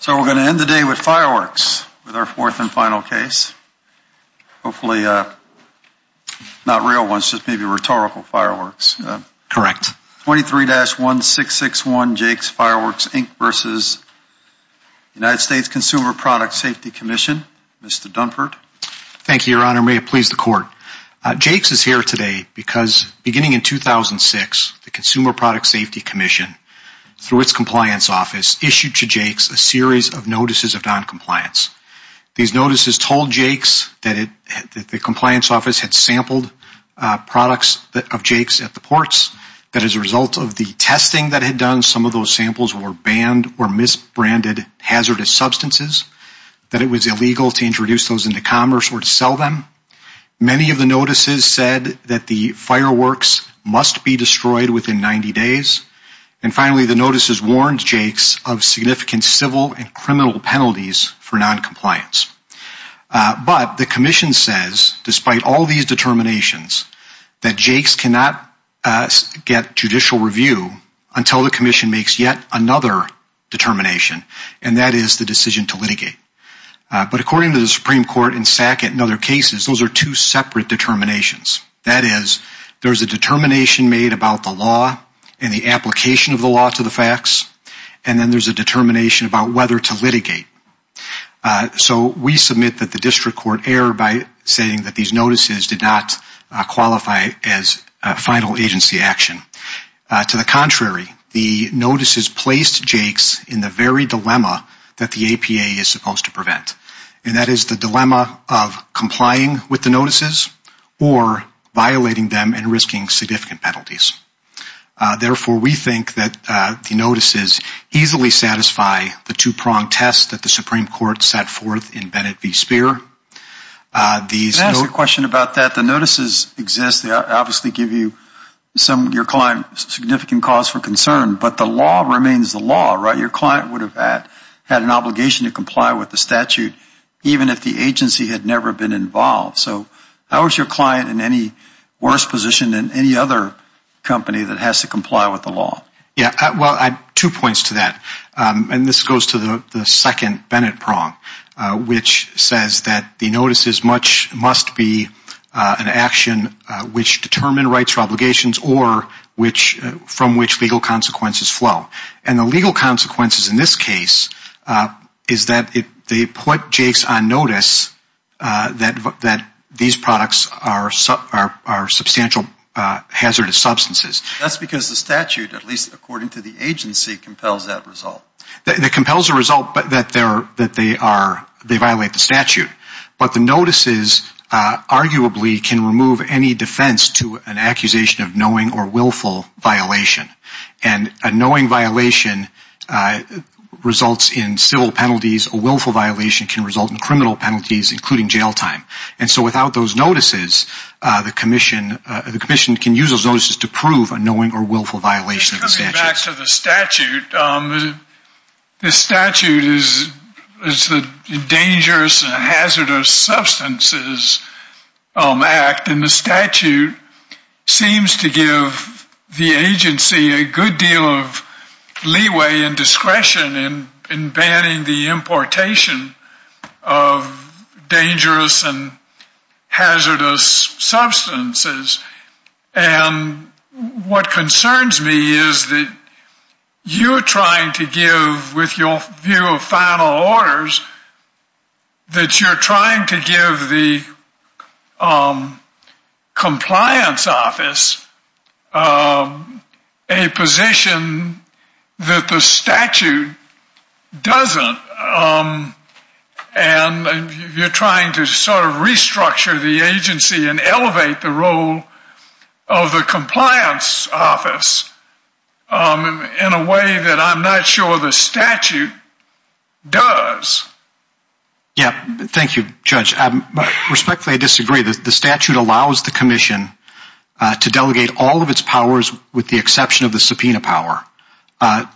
So we're going to end the day with fireworks with our fourth and final case. Hopefully not real ones, just maybe rhetorical fireworks. Correct. 23-1661 Jake's Fireworks Inc. v. United States Consumer Product Safety Commission. Mr. Dunford. Thank you, Your Honor. May it please the Court. Jake's is here today because beginning in 2006, the Consumer Product Safety Commission, through its compliance office, issued to Jake's a series of notices of noncompliance. These notices told Jake's that the compliance office had sampled products of Jake's at the ports, that as a result of the testing that had done, some of those samples were banned or misbranded hazardous substances, that it was illegal to introduce those into commerce or to sell them. Many of the notices said that the fireworks must be destroyed within 90 days. And finally, the notices warned Jake's of significant civil and criminal penalties for noncompliance. But the Commission says, despite all these determinations, that Jake's cannot get judicial review until the Commission makes yet another determination, and that is the decision to litigate. But according to the Supreme Court and SACIT and other cases, those are two separate determinations. That is, there's a determination made about the law and the application of the law to the facts, and then there's a determination about whether to litigate. So we submit that the District Court err by saying that these notices did not qualify as final agency action. To the contrary, the notices placed Jake's in the very dilemma that the APA is supposed to prevent, and that is the dilemma of complying with the notices or violating them and risking significant penalties. Therefore, we think that the notices easily satisfy the two-pronged test that the Supreme Court set forth in Bennett v. Speer. Let me ask you a question about that. The notices exist. They obviously give you some your client significant cause for concern, but the law remains the law, right? Your client would have had an obligation to comply with the statute even if the agency had never been involved. So how is your client in any worse position than any other company that has to comply with the law? Yeah, well, I have two points to that, and this goes to the second Bennett prong, which says that the notices must be an action which determine rights or obligations or from which legal consequences flow. And the legal consequences in this case is that they put Jake's on notice that these products are substantial hazardous substances. That's because the statute, at least according to the agency, compels that result. It compels the result that they violate the statute. But the notices arguably can remove any defense to an accusation of knowing or willful violation. And a knowing violation results in civil penalties. A willful violation can result in criminal penalties, including jail time. And so without those notices, the commission can use those notices to prove that the agency has violated the statute. And so that goes back to the statute. The statute is the dangerous and hazardous substances act, and the statute seems to give the agency a good deal of leeway and discretion in banning the importation of dangerous and hazardous substances. And what concerns me is that you are trying to give, with your view of final orders, that you're trying to give the compliance office a position that the statute doesn't. And you're trying to sort of restructure the agency and elevate the role of the compliance office in a way that I'm not sure the statute does. Thank you, Judge. Respectfully, I disagree. The statute allows the commission to delegate all of its powers, with the exception of the subpoena power,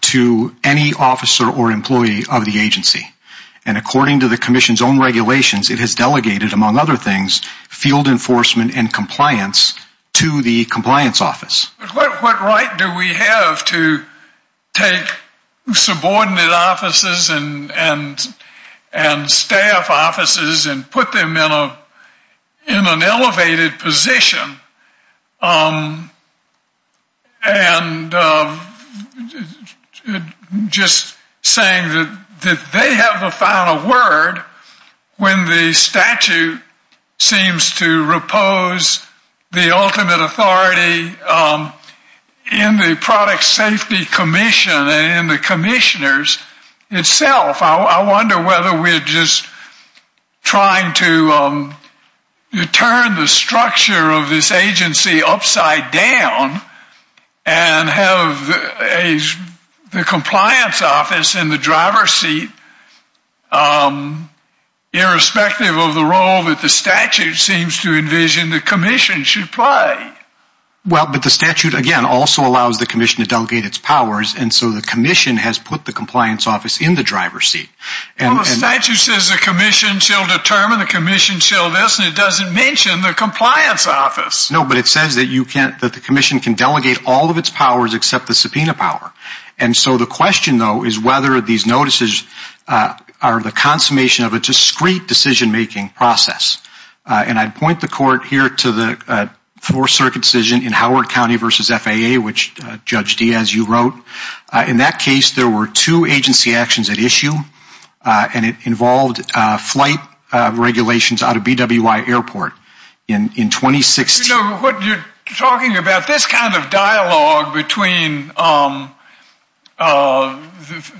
to any officer or employee of the agency. And according to the commission's own regulations, it has delegated, among other things, field enforcement and compliance to the compliance office. What right do we have to take subordinate offices and staff offices and put them in an elevated position? And just saying that, you know, I'm not sure the statute does that they have the final word when the statute seems to repose the ultimate authority in the product safety commission and in the commissioners itself. I wonder whether we're just trying to turn the structure of this agency upside down and have the compliance office in the driver's seat, irrespective of the role that the statute seems to envision the commission should play. Well, but the statute, again, also allows the commission to delegate its powers, and so the commission has put the compliance office in the driver's seat. Well, the statute says the commission shall determine, the commission shall this, and it doesn't mention the compliance office. No, but it says that the commission can delegate all of its powers except the subpoena power. And so the question, though, is whether these notices are the consummation of a discrete decision-making process. And I'd point the court here to the Fourth Circuit decision in Howard County v. FAA, which Judge Diaz, you wrote. In that case, there were two agency actions at issue, and it involved flight regulations out of BWI Airport in 2016. What you're talking about, this kind of dialogue between the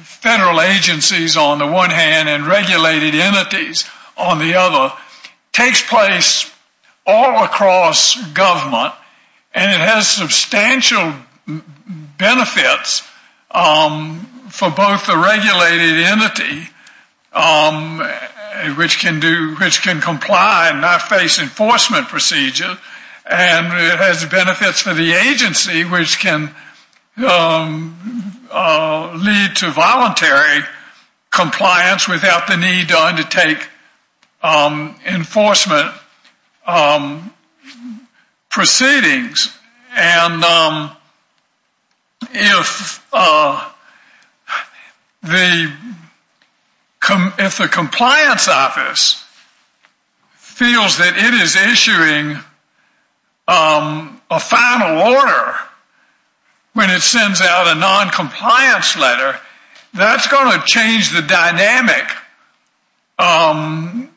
federal agencies on the one hand and regulated entities on the other, takes place all across government, and it has substantial benefits for both the regulated entity, which can comply and not face enforcement procedure, and it has benefits for the agency, which can lead to voluntary compliance without the need to undertake enforcement proceedings. And if the compliance office feels that it is issuing a final order when it sends out a noncompliance letter, that's going to change the dynamic and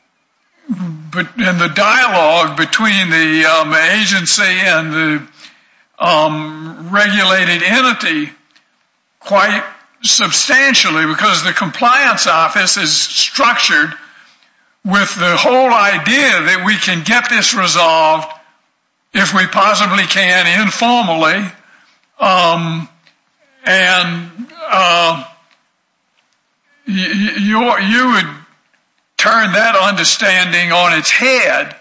the dialogue between the agency and the regulated entity quite substantially because the compliance office is structured with the whole idea that we can get this resolved if we possibly can informally, and you would turn that understanding on its head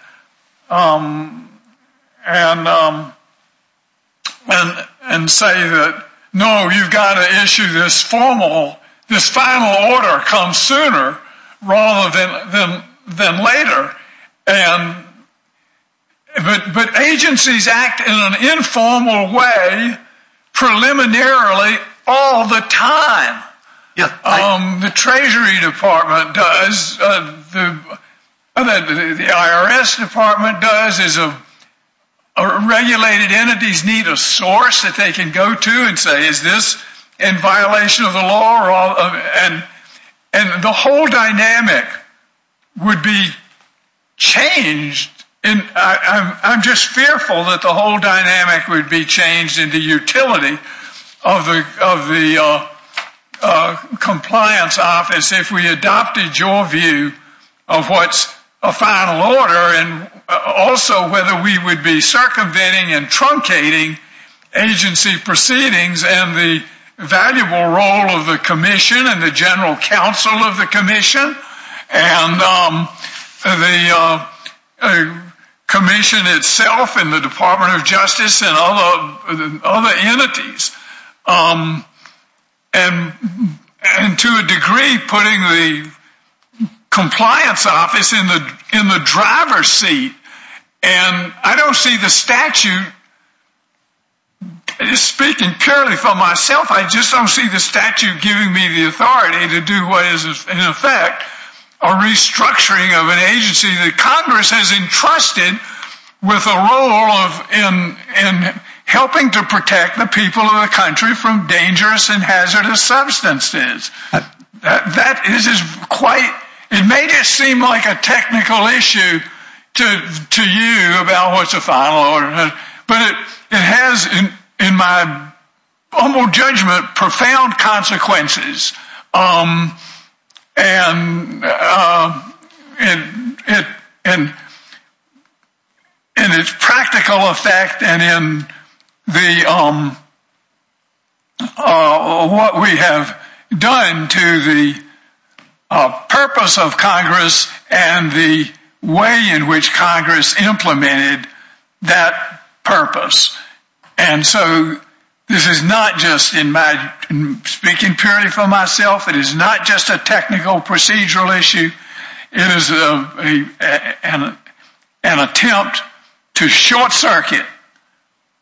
and say that, no, you've got to issue this formal, this final order, come sooner rather than later. But agencies act in an informal way preliminarily all the time. The Treasury Department does. The IRS Department does. Regulated entities need a source that they can go to, and they can say, is this in violation of the law? And the whole dynamic would be changed. I'm just fearful that the whole dynamic would be changed in the utility of the compliance office if we adopted your view of what's a final order, and also whether we would be doing a formal order. I've been in many meetings and the valuable role of the commission and the general counsel of the commission, and the commission itself and the Department of Justice and other entities, to a degree putting the compliance office in the driver's seat. And I don't see the statute giving me the authority to do what is, in effect, a restructuring of an agency that Congress has entrusted with a role in helping to protect the people of the country from dangerous and hazardous substances. That is quite, it may just seem like a technical issue to you about what's a final order, but it has, in my humble judgment, profound consequences. And in its practical effect and in what we have done to the purpose of Congress and the way in which Congress implemented that purpose. And so this is not just in my, speaking purely for myself, it is not just a technical procedural issue. It is an attempt to short circuit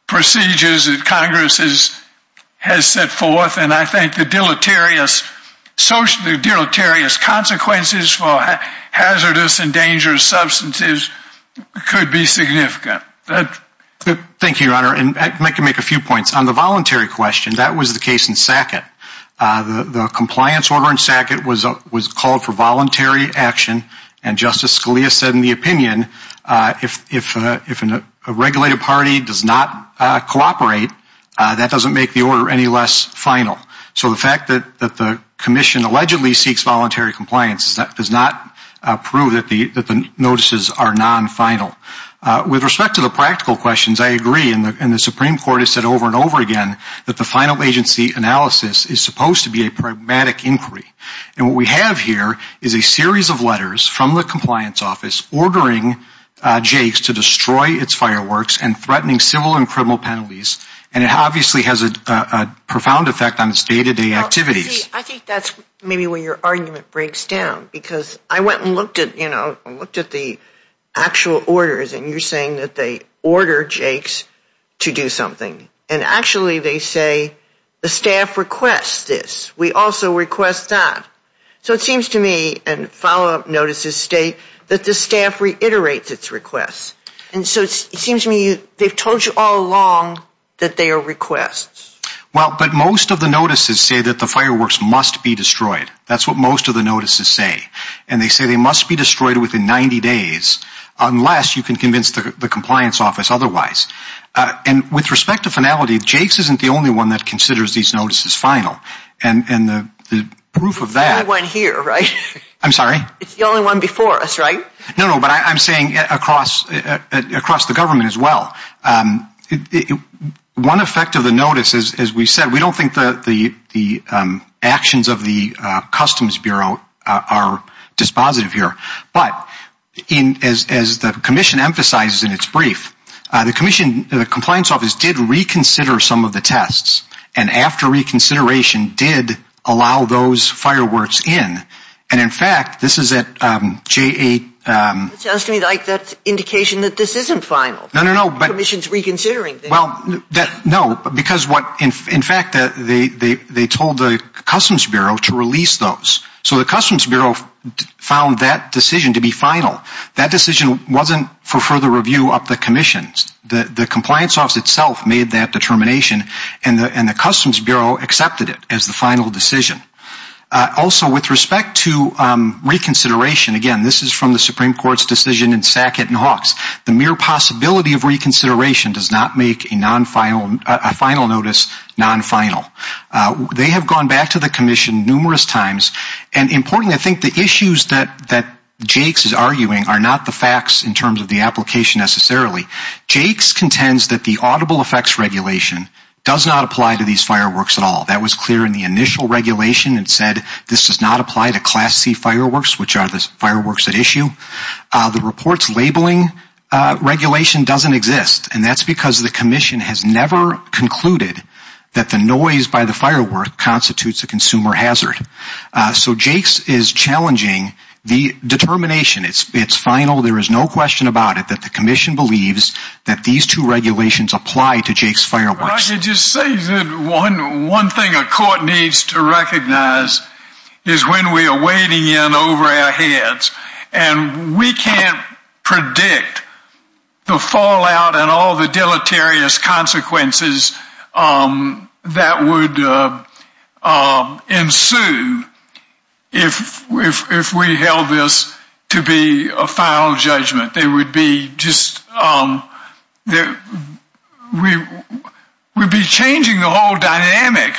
procedures that Congress has set forth, and I think the deleterious, socially deleterious consequences for hazardous and dangerous substances could be significant. Thank you, Your Honor, and I can make a few points. On the voluntary question, that was the case in Sackett. The compliance order in Sackett was called for voluntary action, and Justice Scalia said in the opinion, if a regulated party does not cooperate, that doesn't make the order any less final. So the fact that the commission allegedly seeks voluntary compliance does not prove that the notices are non-final. With respect to the practical questions, I agree, and the Supreme Court has said over and over again, that the final agency analysis is supposed to be a pragmatic inquiry. And what we have here is a series of letters from the compliance office ordering Jake's to destroy its fireworks and threatening civil and criminal penalties, and it obviously has a profound effect on its day-to-day activities. I think that's maybe where your argument breaks down, because I went and looked at the actual orders, and you're saying that they order Jake's to do something, and actually they say the staff requests this. We also request that. So it seems to me, and follow-up notices state that the staff reiterates its requests. And so it seems to me they've told you all along that they are requests. Well, but most of the notices say that the fireworks must be destroyed. That's what most of the notices say. And they say they must be destroyed within 90 days, unless you can convince the compliance office otherwise. And with respect to finality, Jake's isn't the only one that considers these notices final. And the proof of that It's the only one here, right? I'm sorry? It's the only one before us, right? No, but I'm saying across the government as well. One effect of the notices, as we said, we don't think the actions of the Customs Bureau are dispositive here. But as the Commission emphasizes in its brief, the compliance office did reconsider some of the tests, and after the Commission's reconsideration, it seems to me like that's indication that this isn't final. The Commission's reconsidering things. No, because what, in fact, they told the Customs Bureau to release those. So the Customs Bureau found that decision to be final. That decision wasn't for further review of the Commission's. The compliance office itself made that determination, and the Customs Bureau accepted it as the Supreme Court's decision in Sackett and Hawks. The mere possibility of reconsideration does not make a final notice non-final. They have gone back to the Commission numerous times, and importantly, I think the issues that Jake's is arguing are not the facts in terms of the application necessarily. Jake's contends that the Audible Effects Regulation does not apply to these fireworks at all. That was clear in the initial regulation. It said this does not apply to Class C fireworks, which are the fireworks at issue. The report's labeling regulation doesn't exist, and that's because the Commission has never concluded that the noise by the firework constitutes a consumer hazard. So Jake's is challenging the determination. It's final. There is no question about it that the Commission believes that these two regulations apply to Jake's fireworks. I can just say that one thing a court needs to recognize is when we are wading in over our heads, and we can't predict the fallout and all the deleterious consequences that would ensue if we held this to be a final judgment. We would be changing the whole dynamic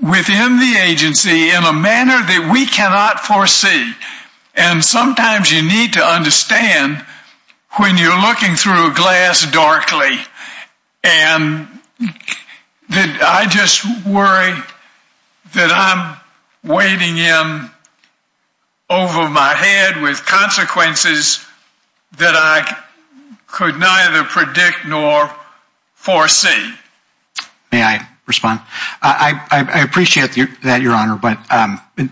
within the agency in a manner that we cannot foresee, and sometimes you need to understand you're looking through a glass darkly, and I just worry that I'm wading in over my head with consequences that I could neither predict nor foresee. May I respond? I appreciate that, Your Honor, but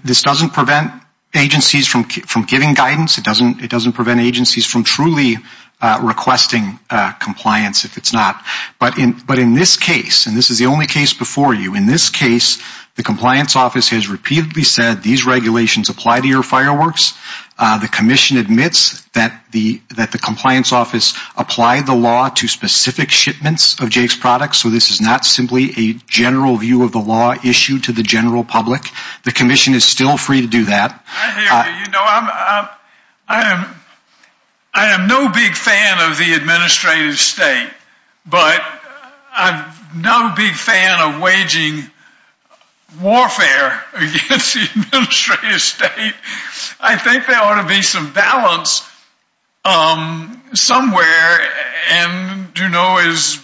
this doesn't prevent agencies from giving guidance. It doesn't prevent agencies from truly requesting compliance if it's not. But in this case, and this is the only case before you, in this case, the Compliance Office has repeatedly said these regulations apply to your fireworks. The Commission admits that the Compliance Office applied the law to specific shipments of Jake's products, so this is not simply a general view of the law issued to the general public. The Commission is still free to do that. I am no big fan of the Administrative State, but I'm no big fan of waging warfare against the Administrative State. I think there ought to be some balance somewhere, and you know, as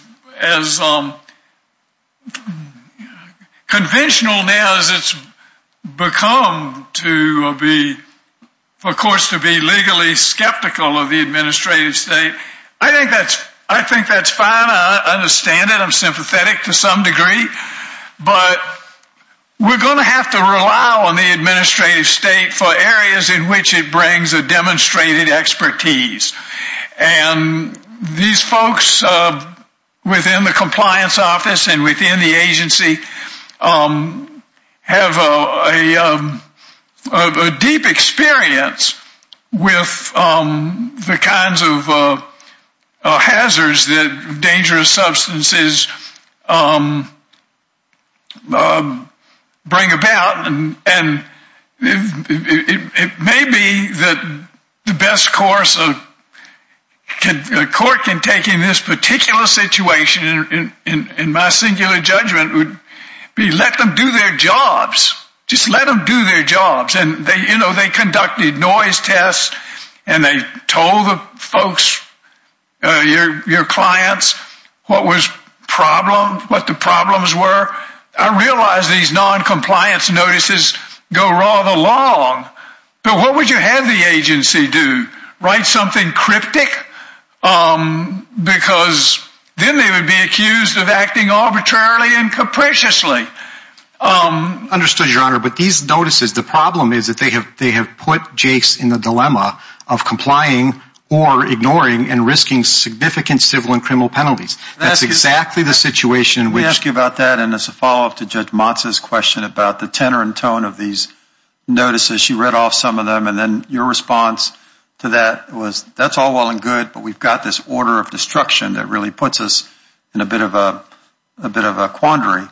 conventional now as it's become to be, of course, to be legally skeptical of the Administrative State, I think that's fine. I understand it. I'm sympathetic to some degree, but we're going to have to rely on the Administrative State for areas in which it These folks within the Compliance Office and within the agency have a deep experience with the kinds of particular situation, in my singular judgment, would be let them do their jobs. Just let them do their jobs, and they, you know, they conducted noise tests, and they told the folks, your clients, what was the problem, what the problems were. I realize these non-compliance notices go rather long, but what would you have the agency do? Write something cryptic? Because then they would be accused of acting arbitrarily and capriciously. Understood, Your Honor, but these notices, the problem is that they have put Jakes in the dilemma of complying or ignoring and risking significant civil and criminal penalties. That's exactly the situation. Let me ask you about that, and then as a follow-up to Judge Motza's question about the tenor and tone of these notices, she read off some of them, and then your response to that was, that's all well and good, but we've got this order of destruction that really puts us in a bit of a quandary.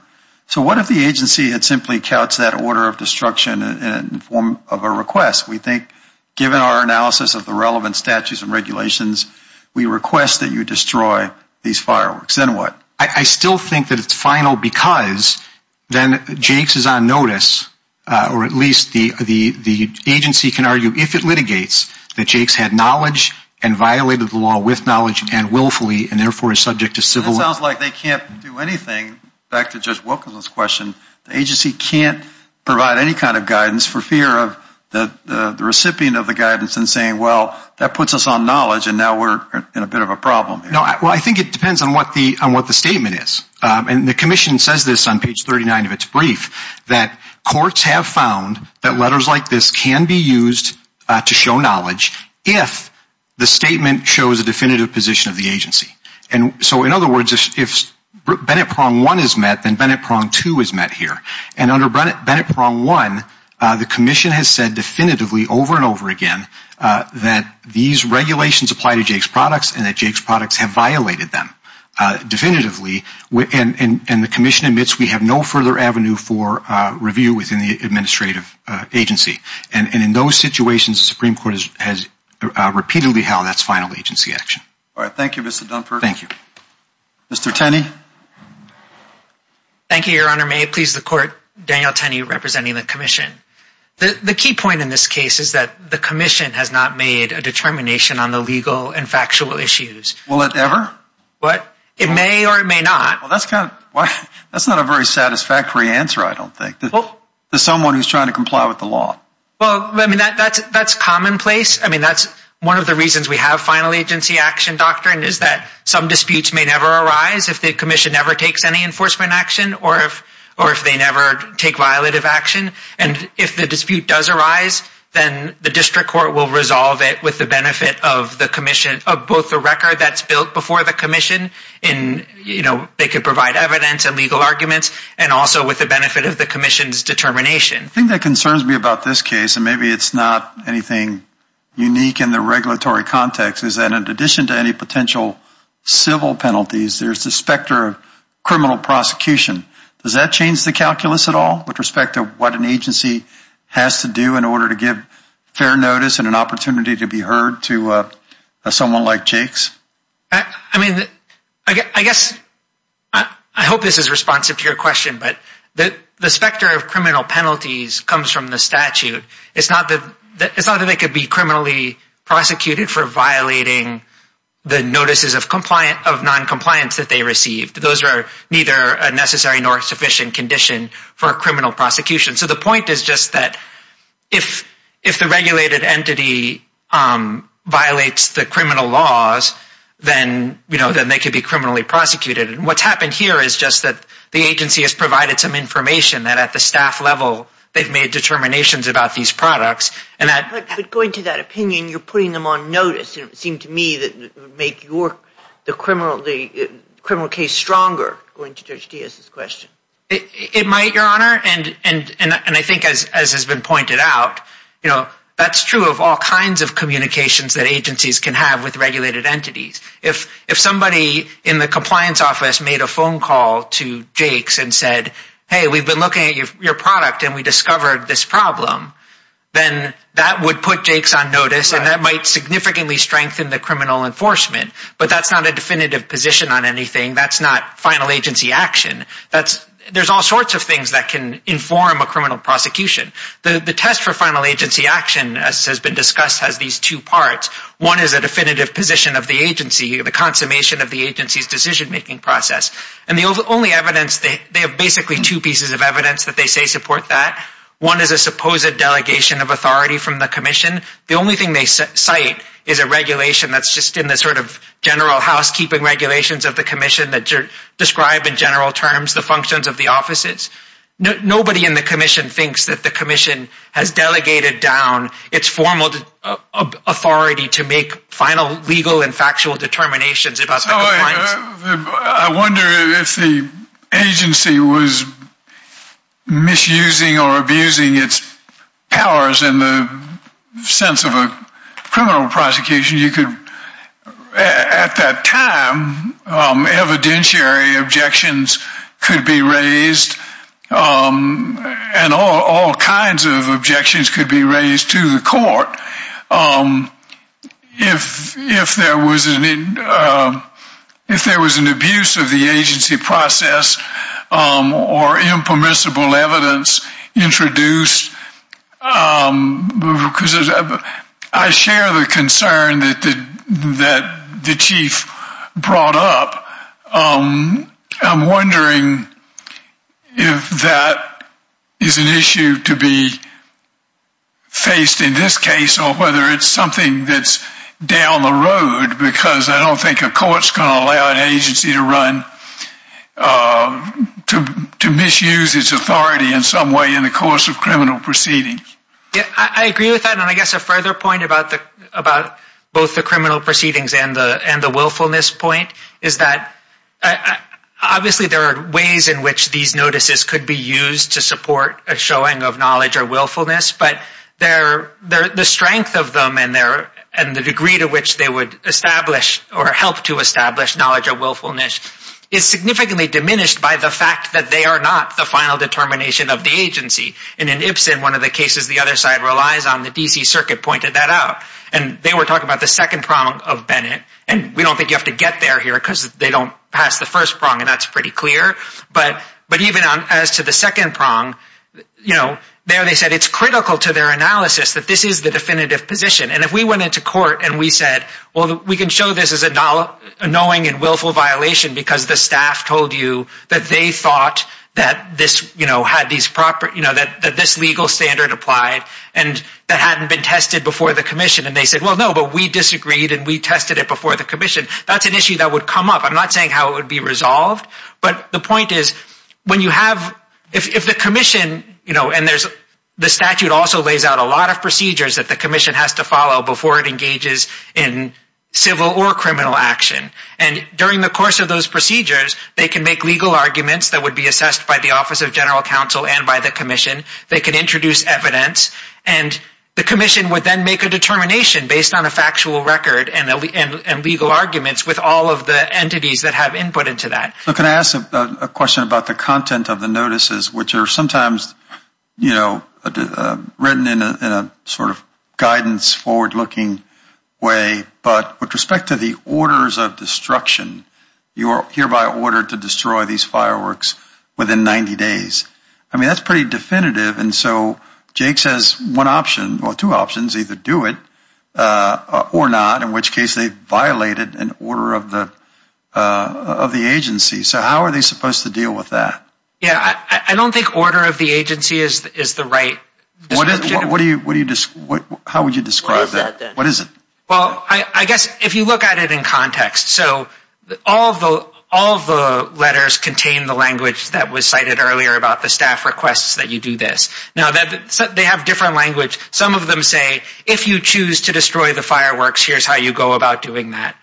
So what if the agency had simply couched that order of destruction in the form of a request? We think, given our analysis of the relevant statutes and regulations, we request that you destroy these fireworks. Then what? I still think that it's final because then Jakes is on notice, or at least the agency can argue, if it litigates, that Jakes had knowledge and violated the law with knowledge and willfully, and therefore is subject to civil... That sounds like they can't do anything. Back to Judge Wilkinson's question, the agency can't provide any kind of guidance for fear of the recipient of the guidance in saying, well, that puts us on knowledge and now we're in a bit of a problem. No, well, I think it depends on what the statement is, and the Commission says this on page 39 of its brief, that courts have found that letters like this can be used to show knowledge if the statement shows a definitive position of the agency. So in other words, if Bennett Prong 1 is met, then Bennett Prong 2 is met here. And under Bennett Prong 1, the Commission has said definitively over and over again that these regulations apply to Jakes products and that Jakes products have been used. And the Commission admits we have no further avenue for review within the administrative agency. And in those situations, the Supreme Court has repeatedly held that's final agency action. All right. Thank you, Mr. Dunford. Thank you. Mr. Tenney. Thank you, Your Honor. May it please the Court, Daniel Tenney representing the Commission. The key point in this case is that the Commission has not made a determination on the legal and factual issues. Will it ever? What? It may or it may not. Well, that's kind of why that's not a very satisfactory answer, I don't think, to someone who's trying to comply with the law. Well, I mean, that's that's commonplace. I mean, that's one of the reasons we have final agency action doctrine is that some disputes may never arise if the Commission never takes any enforcement action or if or if they never take violative action. And if the dispute does arise, then the district court will resolve it with the benefit of the Commission of both the record that's built before the Commission and, you know, they could provide evidence and legal arguments and also with the benefit of the Commission's determination. I think that concerns me about this case, and maybe it's not anything unique in the regulatory context, is that in addition to any potential civil penalties, there's the specter of criminal prosecution. Does that change the calculus at all with respect to what an agency has to do in order to give fair notice and an opportunity to be heard to someone like Jake's? I mean, I guess I hope this is responsive to your question, but the specter of criminal penalties comes from the statute. It's not that it's not that they could be criminally prosecuted for violating the notices of compliance of noncompliance that they received. Those are neither a necessary nor sufficient condition for a criminal prosecution. So the point is just that if if the regulated entity violates the criminal laws, then, you know, then they could be criminally prosecuted. And what's happened here is just that the agency has provided some information that at the staff level, they've made determinations about these products. But going to that opinion, you're putting them on notice. It seemed to me that make your the criminal the criminal case stronger. Going to Judge Diaz's question. It might, Your Honor. And and and I think as as has been pointed out, you know, that's true of all kinds of communications that agencies can have with regulated entities. If if somebody in the compliance office made a phone call to Jake's and said, hey, we've been looking at your product and we discovered this problem, then that would put Jake's on notice. And that might significantly strengthen the criminal enforcement. But that's not a definitive position on anything. That's not final agency action. That's there's all sorts of things that can inform a criminal prosecution. The test for final agency action, as has been discussed, has these two parts. One is a definitive position of the agency, the consummation of the agency's decision making process. And the only evidence that they have basically two pieces of evidence that they say support that one is a supposed delegation of authority from the commission. The only thing they cite is a regulation that's just in the sort of general housekeeping regulations of the commission that describe in general terms the functions of the offices. Nobody in the commission thinks that the commission has delegated down its formal authority to make final legal and factual determinations about. I wonder if the agency was misusing or abusing its powers in the sense of a criminal prosecution. You could at that time evidentiary objections could be raised and all kinds of objections could be raised to the court. If there was an abuse of the agency process or impermissible evidence introduced, I share the concern that the chief brought up. I'm wondering if that is an issue to be faced in this case or whether it's something that's down the road because I don't think a court's going to allow an agency to run to misuse its authority in some way in the course of criminal proceedings. I agree with that and I guess a further point about both the criminal proceedings and the willfulness point is that obviously there are ways in which these notices could be used to support a showing of knowledge or willfulness, but the strength of them and the degree to which they would establish or help to establish knowledge of willfulness is significantly diminished by the fact that they are not the final determination of the agency. In Ipsen, one of the cases the other side relies on, the DC Circuit pointed that out and they were talking about the second prong of Bennett and we don't think you have to get there here because they don't pass the first prong and that's pretty clear, but even as to the second prong, there they said it's critical to their analysis that this is the definitive position and if we went into court and we said, well, we can show this is a knowing and willful violation because the staff told you that they thought that this legal standard applied and that hadn't been tested before the commission and they said, well, no, but we disagreed and we tested it before the commission. That's an issue that would come up. I'm not saying how it would be resolved, but the point is when you have, if the commission, and the statute also lays out a lot of procedures that the commission has to follow before it engages in civil or criminal action and during the course of those procedures, they can make legal arguments that would be assessed by the Office of General Counsel and by the commission. They can introduce evidence and the commission would then make a determination based on a factual record and legal arguments with all of the entities that have input into that. Can I ask a question about the content of the notices which are sometimes, you know, written in a sort of guidance forward looking way, but with respect to the orders of destruction, you are hereby ordered to destroy these fireworks within 90 days. I mean, that's pretty definitive, and so Jake says one option, well, two options, either do it or not, in which case they violated an order of the agency. So how are they supposed to deal with that? Yeah, I don't think order of the agency is the right description. What do you, how would you describe that? What is it? Well, I guess if you look at it in context, so all the letters contain the language that was cited earlier about the staff requests that you do this. Now, they have different language. Some of them say, if you choose to destroy the fireworks, here's how you go about doing that,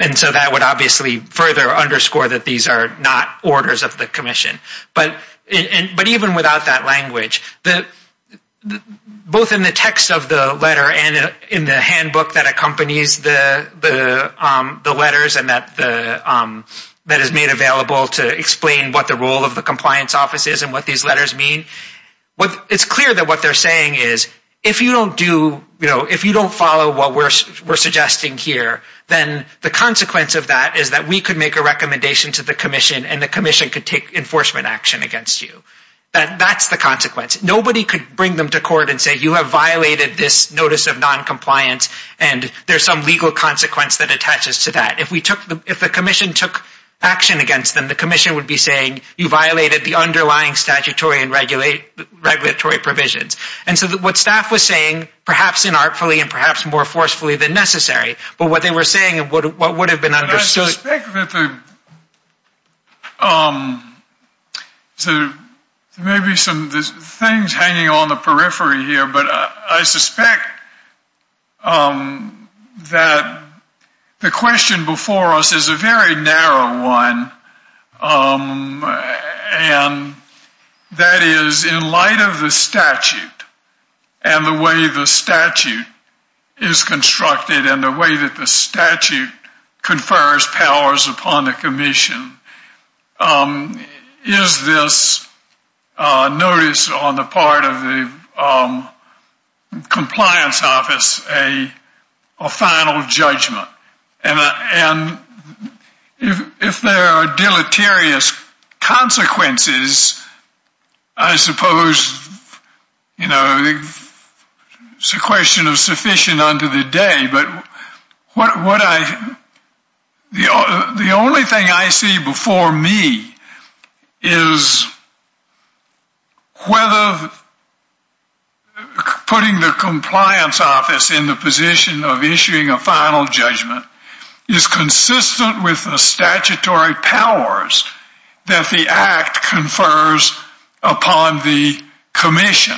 and so that would obviously further underscore that these are not orders of the commission. But even without that language, both in the text of the letter and in the handbook that accompanies the letters and that is made available to explain what the role of the compliance office is and what these letters mean, it's clear that what they're saying is, if you don't do, you know, if you don't follow what we're suggesting here, then the consequence of that is that we could make a recommendation to the commission and the commission could take enforcement action. Against you, that that's the consequence. Nobody could bring them to court and say, you have violated this notice of noncompliance, and there's some legal consequence that attaches to that. If we took the if the commission took action against them, the commission would be saying you violated the underlying statutory and regulate regulatory provisions. And so what staff was saying, perhaps inartfully and perhaps more forcefully than necessary, but what they were saying and what would have been understood. I suspect that the maybe some things hanging on the periphery here, but I suspect that the question before us is a very narrow one. And that is in light of the statute and the way the statute is constructed and the way that the statute confers powers upon the commission. Is this notice on the part of the commission that would have various consequences, I suppose, you know, it's a question of sufficient unto the day, but what would I the only thing I see before me is whether putting the compliance office in the position of issuing a final judgment is consistent with the statutory powers that the act confers upon the commission.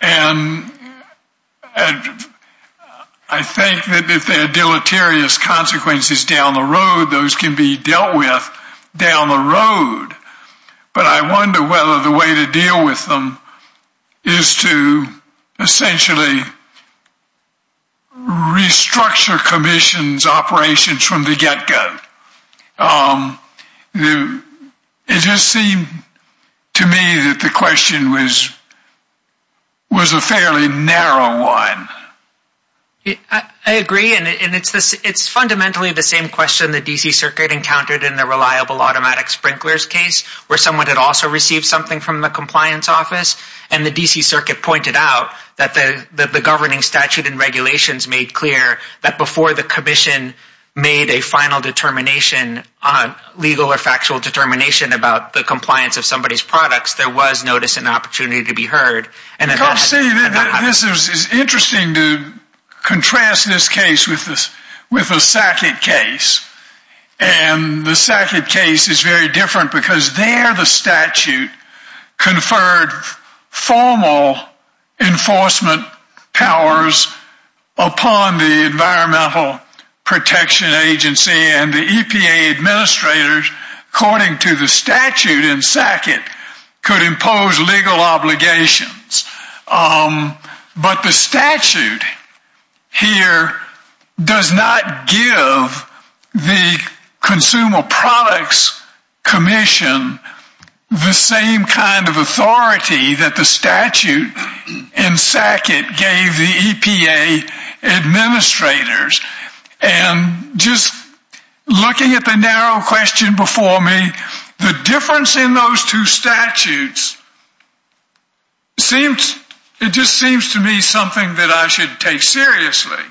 And I think that if there are deleterious consequences down the road, those can be dealt with down the road. But I wonder whether the way to deal with them is to essentially restructure commission's operations from the get go. It just seemed to me that the question was a fairly narrow one. I agree. And it's fundamentally the same question the DC Circuit encountered in the reliable automatic sprinklers case, where someone had also received something from the compliance office. And the DC Circuit pointed out that the governing statute and regulations made clear that before the commission made a final legal or factual determination about the compliance of somebody's products, there was notice and opportunity to be heard. This is interesting to contrast this case with the SACIT case. And the SACIT case is very different because there the statute conferred formal enforcement powers upon the Environmental Protection Agency and the EPA administrators, according to the statute in SACIT, could impose legal obligations. But the statute here does not give the Consumer Products Commission the same kind of authority that the statute in SACIT gave the EPA administrators. And just looking at the narrow question before me, the difference in those two statutes seems, it just seems to me, something that I should take seriously.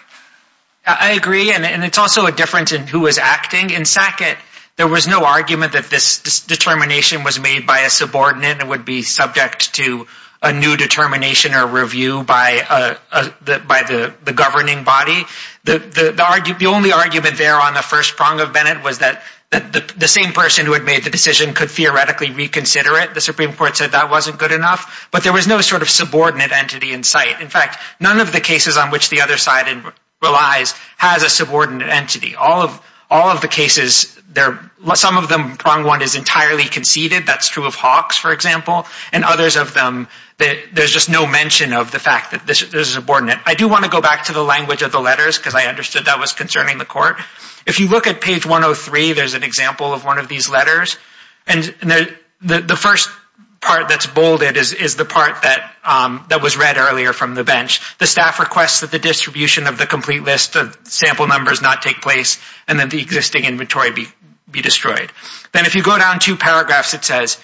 I agree. And it's also a difference in who is acting. In SACIT, there was no argument that this determination was made by a subordinate and would be subject to a new determination or review by the governing body. The only argument there on the first prong of Bennett was that the same person who had made the decision could theoretically reconsider it. The Supreme Court said that wasn't good enough. But there was no sort of subordinate entity in sight. In fact, none of the cases on which the other side relies has a subordinate entity. All of the cases, some of them, prong one, is entirely conceded. That's true of Hawks, for example. And others of them, there's just no mention of the fact that there's a subordinate. I do want to go back to the language of the letters because I understood that was concerning the court. If you look at page 103, there's an example of one of these letters. And the first part that's bolded is the part that was read earlier from the bench. The staff requests that the distribution of the complete list of sample numbers not take place and that the existing inventory be destroyed. Then if you go down two paragraphs, it says,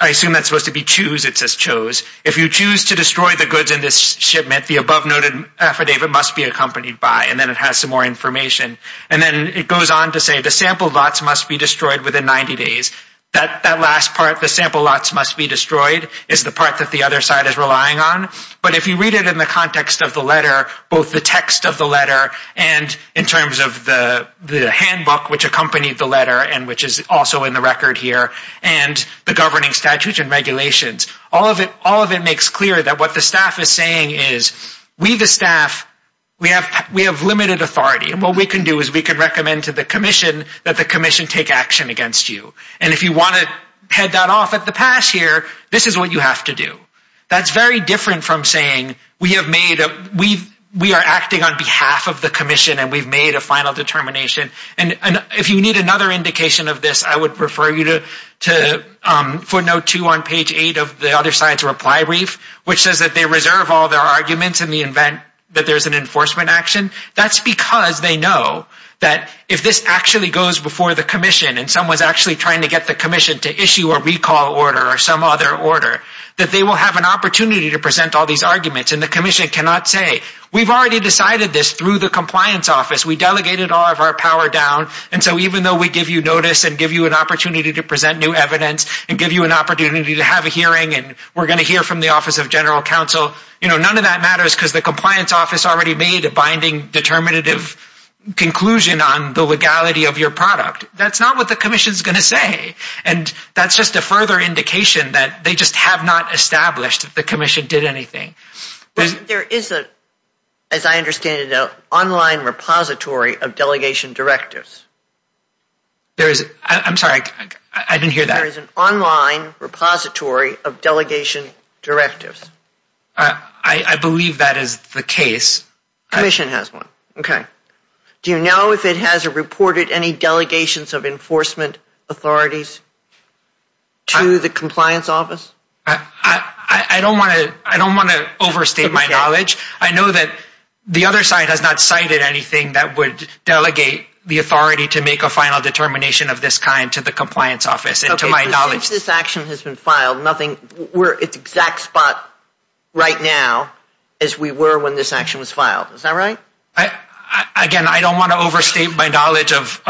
I assume that's supposed to be choose. It says chose. If you choose to destroy the goods in this shipment, the above-noted affidavit must be accompanied by. And then it has some more information. And then it goes on to say the sample lots must be destroyed within 90 days. That last part, the sample lots must be destroyed, is the part that the other side is relying on. But if you read it in the context of the letter, both the text of the letter and in terms of the handbook, which accompanied the letter, and which is also in the record here, and the governing statutes and regulations, all of it makes clear that what the staff is saying is we, the staff, we have limited authority. And what we can do is we can recommend to the commission that the commission take action against you. And if you want to head that off at the pass here, this is what you have to do. That's different from saying we are acting on behalf of the commission and we've made a final determination. And if you need another indication of this, I would refer you to footnote two on page eight of the other side's reply brief, which says that they reserve all their arguments in the event that there's an enforcement action. That's because they know that if this actually goes before the commission and someone's actually trying to get the commission to issue a recall order or some other order, that they will have an opportunity to present all these arguments. And the commission cannot say, we've already decided this through the compliance office. We delegated all of our power down. And so even though we give you notice and give you an opportunity to present new evidence and give you an opportunity to have a hearing, and we're going to hear from the office of general counsel, you know, none of that matters because the compliance office already made a binding determinative conclusion on the legality of your product. That's not what the commission is going to say. And that's just a further indication that they just have not established that the commission did anything. There is a, as I understand it, an online repository of delegation directives. There is, I'm sorry, I didn't hear that. There is an online repository of delegation directives. I believe that is the case. Commission has one. Okay. Do you know if it has reported any delegations of enforcement authorities to the compliance office? I don't want to, I don't want to overstate my knowledge. I know that the other side has not cited anything that would delegate the authority to make a final determination of this kind to the compliance office. And to my knowledge, this action has been filed. We're at the exact spot right now as we were when this action was filed. Is that right? Again, I don't want to overstate my knowledge of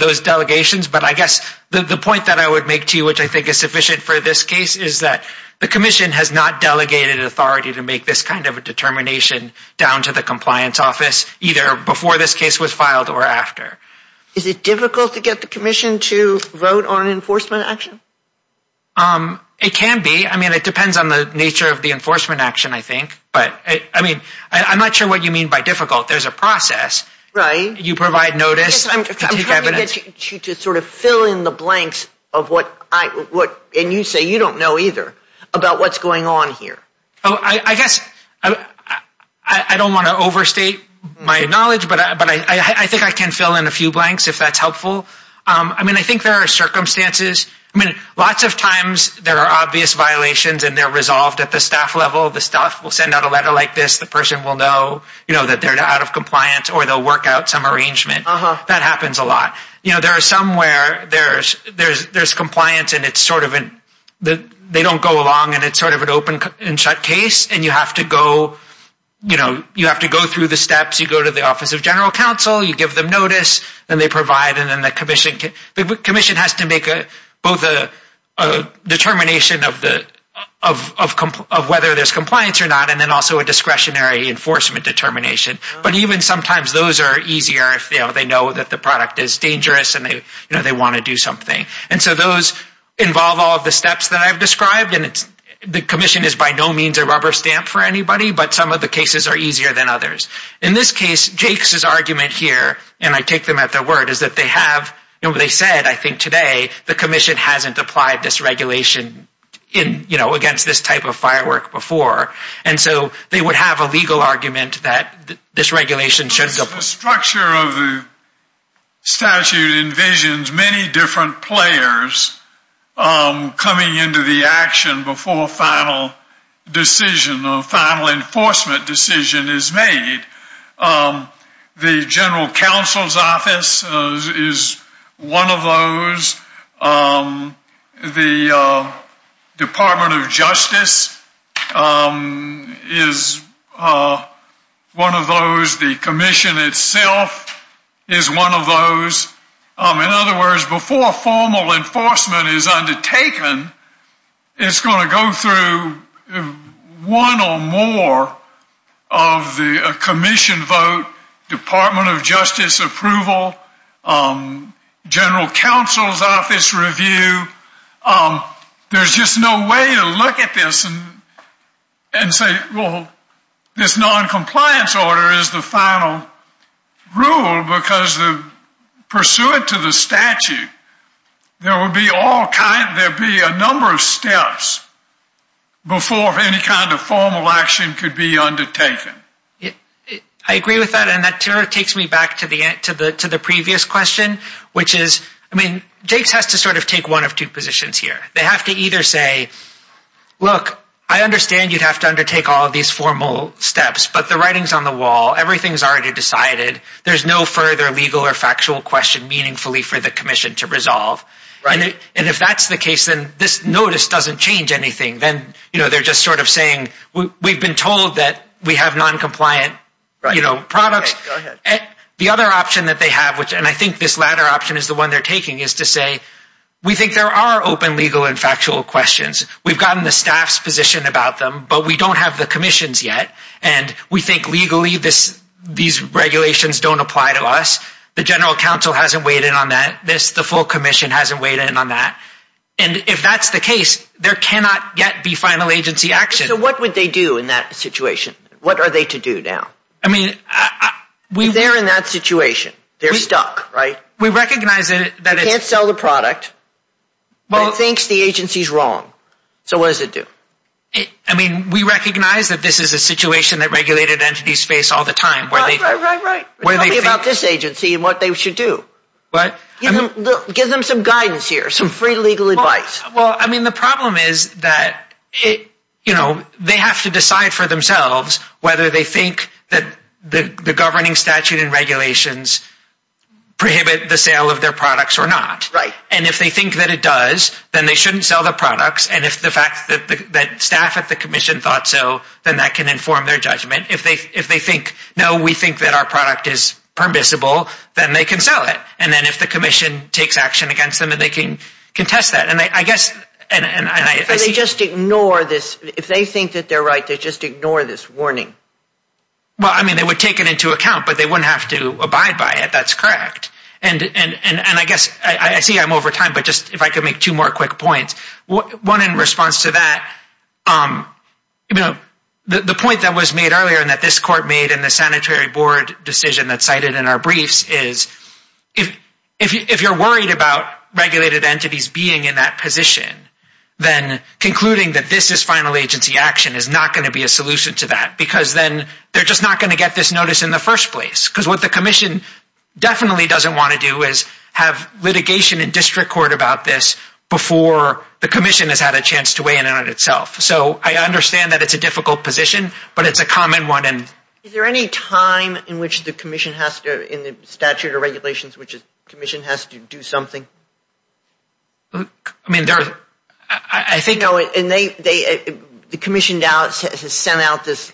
those delegations. But I guess the point that I would make to you, which I think is sufficient for this case, is that the commission has not delegated authority to make this kind of a determination down to the compliance office, either before this case was filed or after. Is it difficult to get the commission to vote on an enforcement action? Um, it can be. I mean, it depends on the nature of the enforcement action, I think. But I mean, I'm not sure what you mean by difficult. There's a process. Right. You provide notice. Yes, I'm trying to get you to sort of fill in the blanks of what I, what, and you say you don't know either about what's going on here. Oh, I guess I don't want to overstate my knowledge. But I think I can fill in a few blanks if that's helpful. I mean, I think there are circumstances. I mean, lots of times there are obvious violations, and they're resolved at the staff level. The staff will send out a letter like this. The person will know, you know, that they're out of compliance, or they'll work out some arrangement. That happens a lot. You know, there are some where there's compliance, and it's sort of an, they don't go along, and it's sort of an open and shut case. And you have to go, you know, you have to go through the steps. You go to the Office of General Counsel. You give them notice. Then they provide. The commission has to make both a determination of whether there's compliance or not, and then also a discretionary enforcement determination. But even sometimes those are easier if they know that the product is dangerous, and they want to do something. And so those involve all of the steps that I've described, and the commission is by no means a rubber stamp for anybody, but some of the cases are easier than others. In this case, Jake's argument here, and I take them at their word, is that they have, you know, they said, I think today, the commission hasn't applied this regulation in, you know, against this type of firework before. And so they would have a legal argument that this regulation shouldn't. The structure of the statute envisions many different players coming into the action before a final decision, a final enforcement decision is made. The General Counsel's Office is one of those. The Department of Justice is one of those. The commission itself is one of those. In other words, before formal enforcement is undertaken, it's going to go through one or more of the commission vote, Department of Justice approval, General Counsel's Office review. There's just no way to look at this and say, well, this noncompliance order is the final rule, because pursuant to the statute, there would be a number of steps before any kind of formal action could be undertaken. I agree with that. And that takes me back to the previous question, which is, I mean, Jake's has to sort of take one of two positions here. They have to either say, look, I understand you'd have to undertake all of these formal steps, but the writing's on the wall. Everything's already decided. There's no further legal or factual question, meaningfully, for the commission to resolve. And if that's the case, then this notice doesn't change anything. Then they're just sort of saying, we've been told that we have noncompliant products. The other option that they have, and I think this latter option is the one they're taking, is to say, we think there are open legal and factual questions. We've gotten the staff's position about them, but we don't have the commission's yet. And we think legally these regulations don't apply to us. The general counsel hasn't weighed in on that. This, the full commission, hasn't weighed in on that. And if that's the case, there cannot yet be final agency action. So what would they do in that situation? What are they to do now? I mean, we... They're in that situation. They're stuck, right? We recognize that it's... They can't sell the product, but it thinks the agency's wrong. So what does it do? I mean, we recognize that this is a situation that regulated entities face all the time. Right, right, right, right. Tell me about this agency and what they should do. What? Give them some guidance here, some free legal advice. Well, I mean, the problem is that, you know, they have to decide for themselves whether they think that the governing statute and regulations prohibit the sale of their products or not. Right. And if they think that it does, then they shouldn't sell the products. And if the fact that staff at the commission thought so, then that can inform their judgment. If they think, no, we think that our product is permissible, then they can sell it. And then if the commission takes action against them, then they can contest that. And I guess, and I see... They just ignore this. If they think that they're right, they just ignore this warning. Well, I mean, they would take it into account, but they wouldn't have to abide by it. That's correct. And I guess, I see I'm over time, but just if I could make two more quick points. One in response to that, you know, the point that was made earlier and that this court made in the sanitary board decision that's cited in our briefs is, if you're worried about regulated entities being in that position, then concluding that this is final agency action is not gonna be a solution to that because then they're just not gonna get this notice in the first place. Because what the commission definitely doesn't wanna do is have litigation in district court about this before the commission has had a chance to weigh in on it itself. So I understand that it's a difficult position, but it's a common one and... Is there any time in which the commission has to, in the statute of regulations, which is commission has to do something? I mean, I think... No, and the commission has sent out this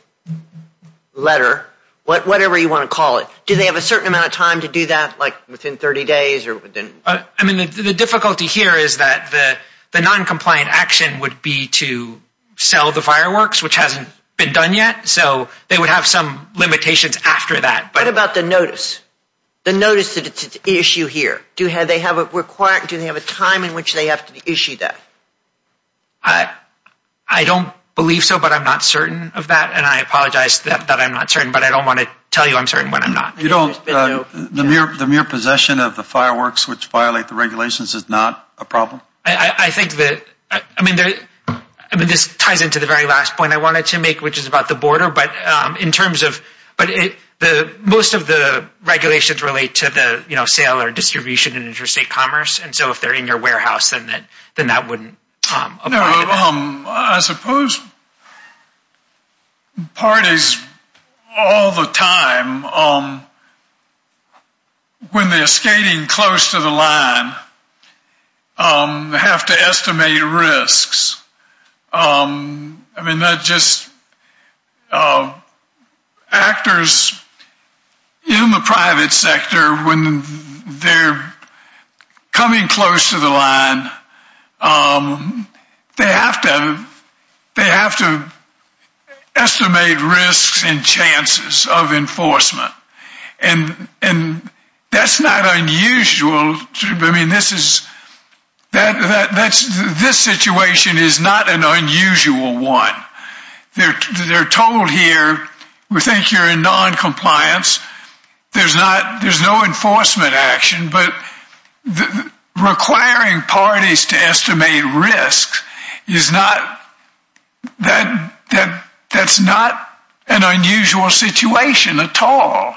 letter, whatever you wanna call it. Do they have a certain amount of time to do that, like within 30 days or within... I mean, the difficulty here is that the non-compliant action would be to sell the fireworks, which hasn't been done yet. So they would have some limitations after that, but... What about the notice? The notice that it's an issue here. Do they have a time in which they have to issue that? I don't believe so, but I'm not certain of that. And I apologize that I'm not certain, but I don't wanna tell you I'm certain when I'm not. The mere possession of the fireworks which violate the regulations is not a problem? I think that... I mean, this ties into the very last point I wanted to make, which is about the border. But in terms of... Most of the regulations relate to the sale or distribution in interstate commerce. And so if they're in your warehouse, then that wouldn't apply. No, I suppose... Parties all the time, when they're skating close to the line, they have to estimate risks. I mean, that just... Actors in the private sector, when they're coming close to the line, they have to estimate risks and chances of enforcement. And that's not unusual. I mean, this situation is not an unusual one. They're told here, we think you're in noncompliance. There's no enforcement action, but requiring parties to estimate risk that's not an unusual situation at all.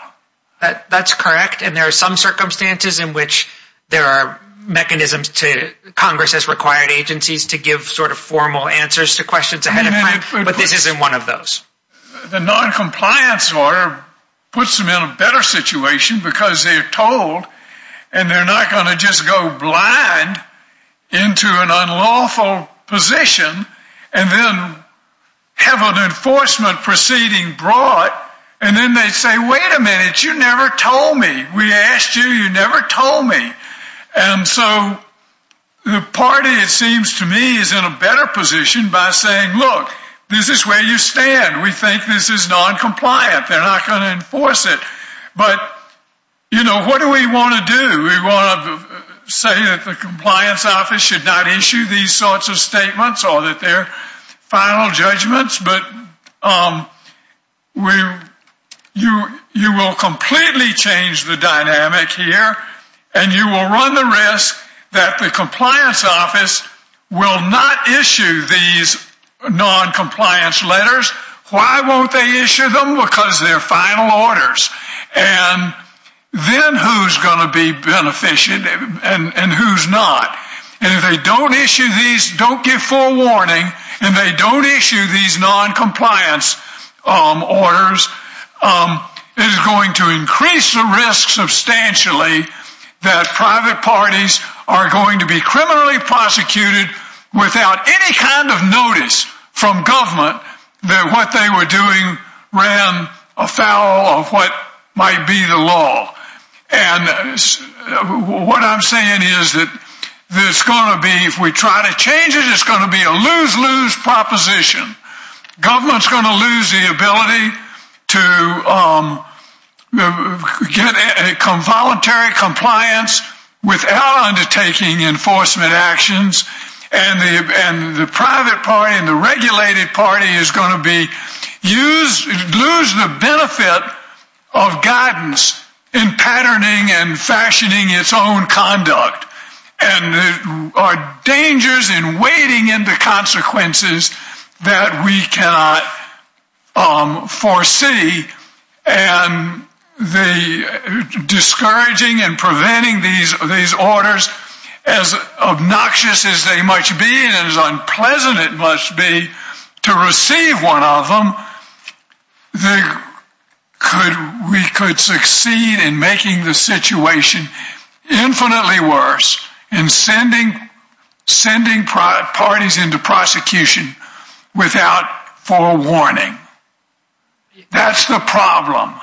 That's correct. And there are some circumstances in which there are mechanisms to... Congress has required agencies to give sort of formal answers to questions ahead of time. But this isn't one of those. The noncompliance order puts them in a better situation because they're told and they're not going to just go blind into an unlawful position and then have an enforcement proceeding brought. And then they say, wait a minute, you never told me. We asked you, you never told me. And so the party, it seems to me, is in a better position by saying, look, this is where you stand. We think this is noncompliant. They're not going to enforce it. But, you know, what do we want to do? We want to say that the compliance office should not issue these sorts of statements or that they're final judgments. But you will completely change the dynamic here and you will run the risk that the compliance office will not issue these noncompliance letters. Why won't they issue them? Because they're final orders. And then who's going to be beneficial and who's not? And if they don't issue these, don't give full warning and they don't issue these noncompliance orders, it is going to increase the risk substantially that private parties are going to be criminally prosecuted without any kind of notice from government that what they were doing ran afoul of what might be the law. And what I'm saying is that there's going to be, if we try to change it, it's going to be a lose-lose proposition. Government's going to lose the ability to get a voluntary compliance without undertaking enforcement actions. And the private party and the regulated party is going to lose the benefit of guidance in patterning and fashioning its own conduct. And there are dangers in wading into consequences that we cannot foresee. And discouraging and preventing these orders, as obnoxious as they must be, and as unpleasant it must be to receive one of them, we could succeed in making the situation infinitely worse. And sending parties into prosecution without forewarning. That's the problem.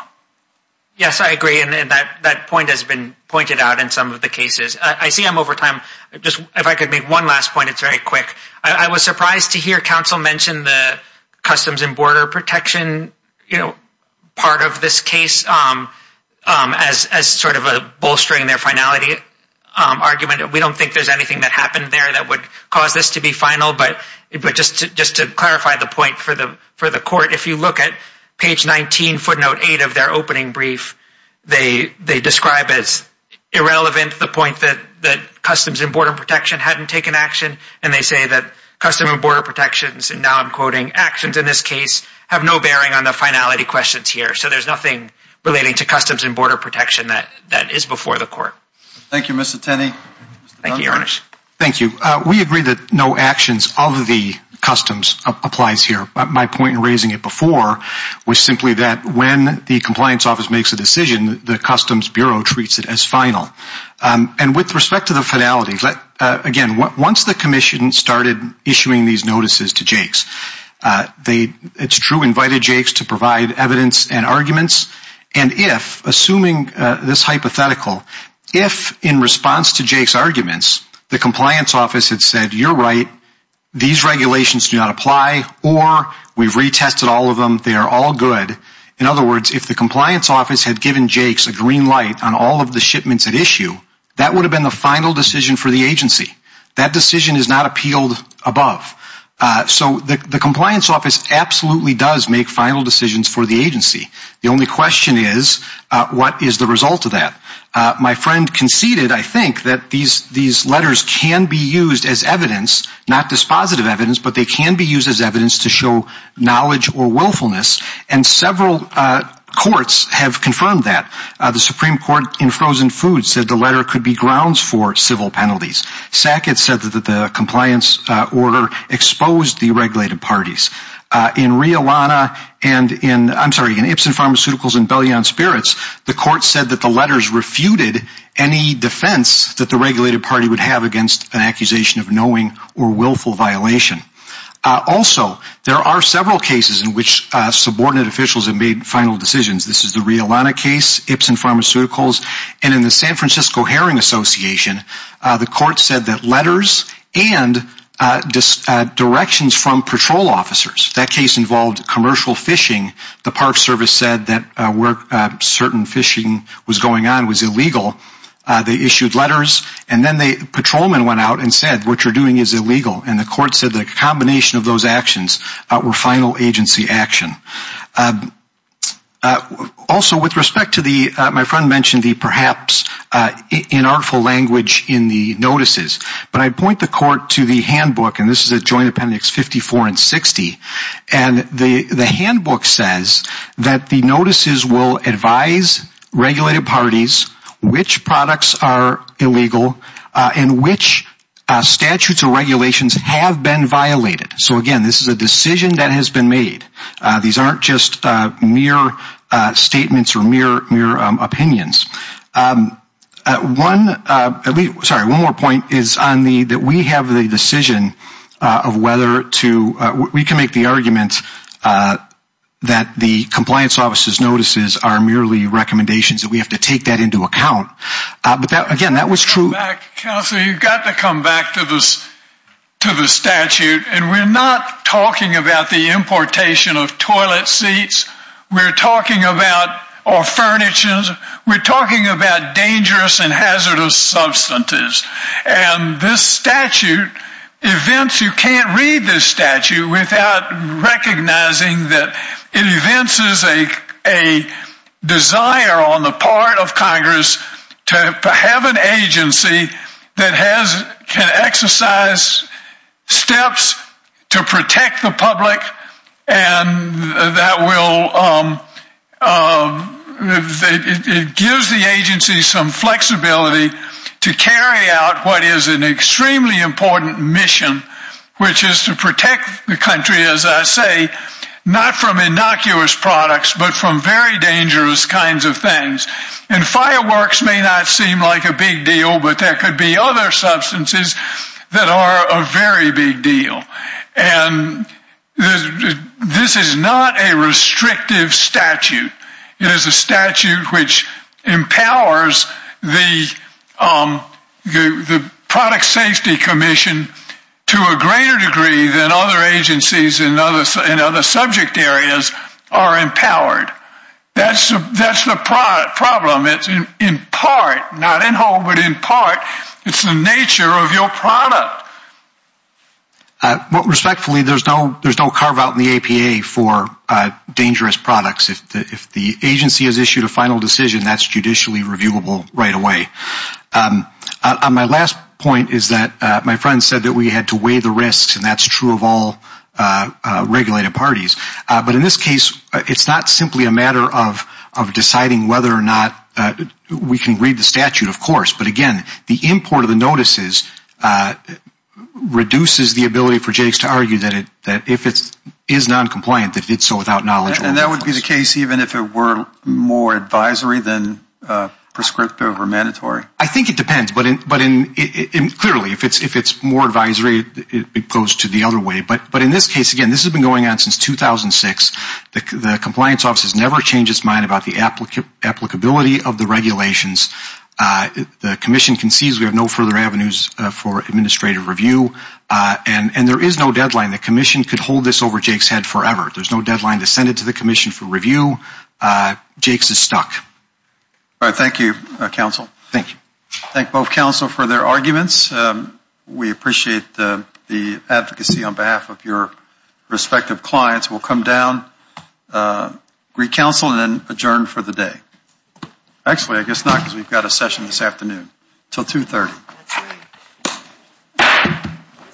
Yes, I agree. And that point has been pointed out in some of the cases. I see I'm over time. If I could make one last point, it's very quick. I was surprised to hear counsel mention the Customs and Border Protection part of this case as sort of a bolstering their finality argument. We don't think there's anything that happened there that would cause this to be final. But just to clarify the point for the court, if you look at page 19, footnote 8 of their opening brief, they describe as irrelevant the point that Customs and Border Protection hadn't taken action. And they say that Customs and Border Protection's, and now I'm quoting, actions in this case have no bearing on the finality questions here. So there's nothing relating to Customs and Border Protection that is before the court. Thank you, Mr. Tenney. Thank you, Ernest. Thank you. We agree that no actions of the Customs applies here. My point in raising it before was simply that when the Compliance Office makes a decision, the Customs Bureau treats it as final. And with respect to the finality, again, once the Commission started issuing these notices to Jake's, it's true, invited Jake's to provide evidence and arguments. And if, assuming this hypothetical, if in response to Jake's arguments, the Compliance Office had said, you're right, these regulations do not apply, or we've retested all of them, they are all good. In other words, if the Compliance Office had given Jake's a green light on all of the shipments at issue, that would have been the final decision for the agency. That decision is not appealed above. So the Compliance Office absolutely does make final decisions for the agency. The only question is, what is the result of that? My friend conceded, I think, that these letters can be used as evidence, not dispositive evidence, but they can be used as evidence to show knowledge or willfulness. And several courts have confirmed that. The Supreme Court in Frozen Foods said the letter could be grounds for civil penalties. Sackett said that the compliance order exposed the regulated parties. In Ipsen Pharmaceuticals and Bellion Spirits, the court said that the letters refuted any defense that the regulated party would have against an accusation of knowing or willful violation. Also, there are several cases in which subordinate officials have made final decisions. This is the Riolana case, Ipsen Pharmaceuticals, and in the San Francisco Herring Association, the court said that letters and directions from patrol officers. That case involved commercial fishing. The Park Service said that where certain fishing was going on was illegal. They issued letters, and then the patrolman went out and said, what you're doing is illegal. And the court said that a combination of those actions were final agency action. Also, with respect to the, my friend mentioned the perhaps inartful language in the notices, but I point the court to the handbook, and this is a joint appendix 54 and 60, and the handbook says that the notices will advise regulated parties which products are illegal and which statutes or regulations have been violated. So again, this is a decision that has been made. These aren't just mere statements or mere opinions. One, sorry, one more point is on the, that we have the decision of whether to, we can make the argument that the compliance officer's notices are merely recommendations that we have to take that into account. But that, again, that was true. You've got to come back, Counselor, you've got to come back to this, to the statute. And we're not talking about the importation of toilet seats. We're talking about our furnitures. We're talking about dangerous and hazardous substances. And this statute, events, you can't read this statute without recognizing that it evinces a desire on the part of Congress to have an agency that has, can exercise steps to protect the public, and that will, it gives the agency some flexibility to carry out what is an extremely important mission, which is to protect the country, as I say, not from innocuous products, but from very dangerous kinds of things. And fireworks may not seem like a big deal, but there could be other substances that are a very big deal. And this is not a restrictive statute. It is a statute which empowers the Product Safety Commission to a greater degree than other agencies in other subject areas are empowered. That's the problem. It's in part, not in whole, but in part, it's the nature of your product. But respectfully, there's no carve out in the APA for dangerous products. If the agency has issued a final decision, that's judicially reviewable right away. My last point is that my friend said that we had to weigh the risks, and that's true of all regulated parties. But in this case, it's not simply a matter of deciding whether or not, we can read the statute, of course, but again, the import of the notices reduces the ability for Jakes to argue that if it is noncompliant, that it's so without knowledge. And that would be the case even if it were more advisory than prescriptive or mandatory? I think it depends. But clearly, if it's more advisory, it goes to the other way. But in this case, again, this has been going on since 2006. The Compliance Office has never changed its mind about the applicability of the regulations. The Commission concedes we have no further avenues for administrative review. And there is no deadline. The Commission could hold this over Jake's head forever. There's no deadline to send it to the Commission for review. Jakes is stuck. All right. Thank you, counsel. Thank you. Thank both counsel for their arguments. We appreciate the advocacy on behalf of your respective clients. We'll come down, re-counsel, and then adjourn for the day. Actually, I guess not, because we've got a session this afternoon. Until 2.30.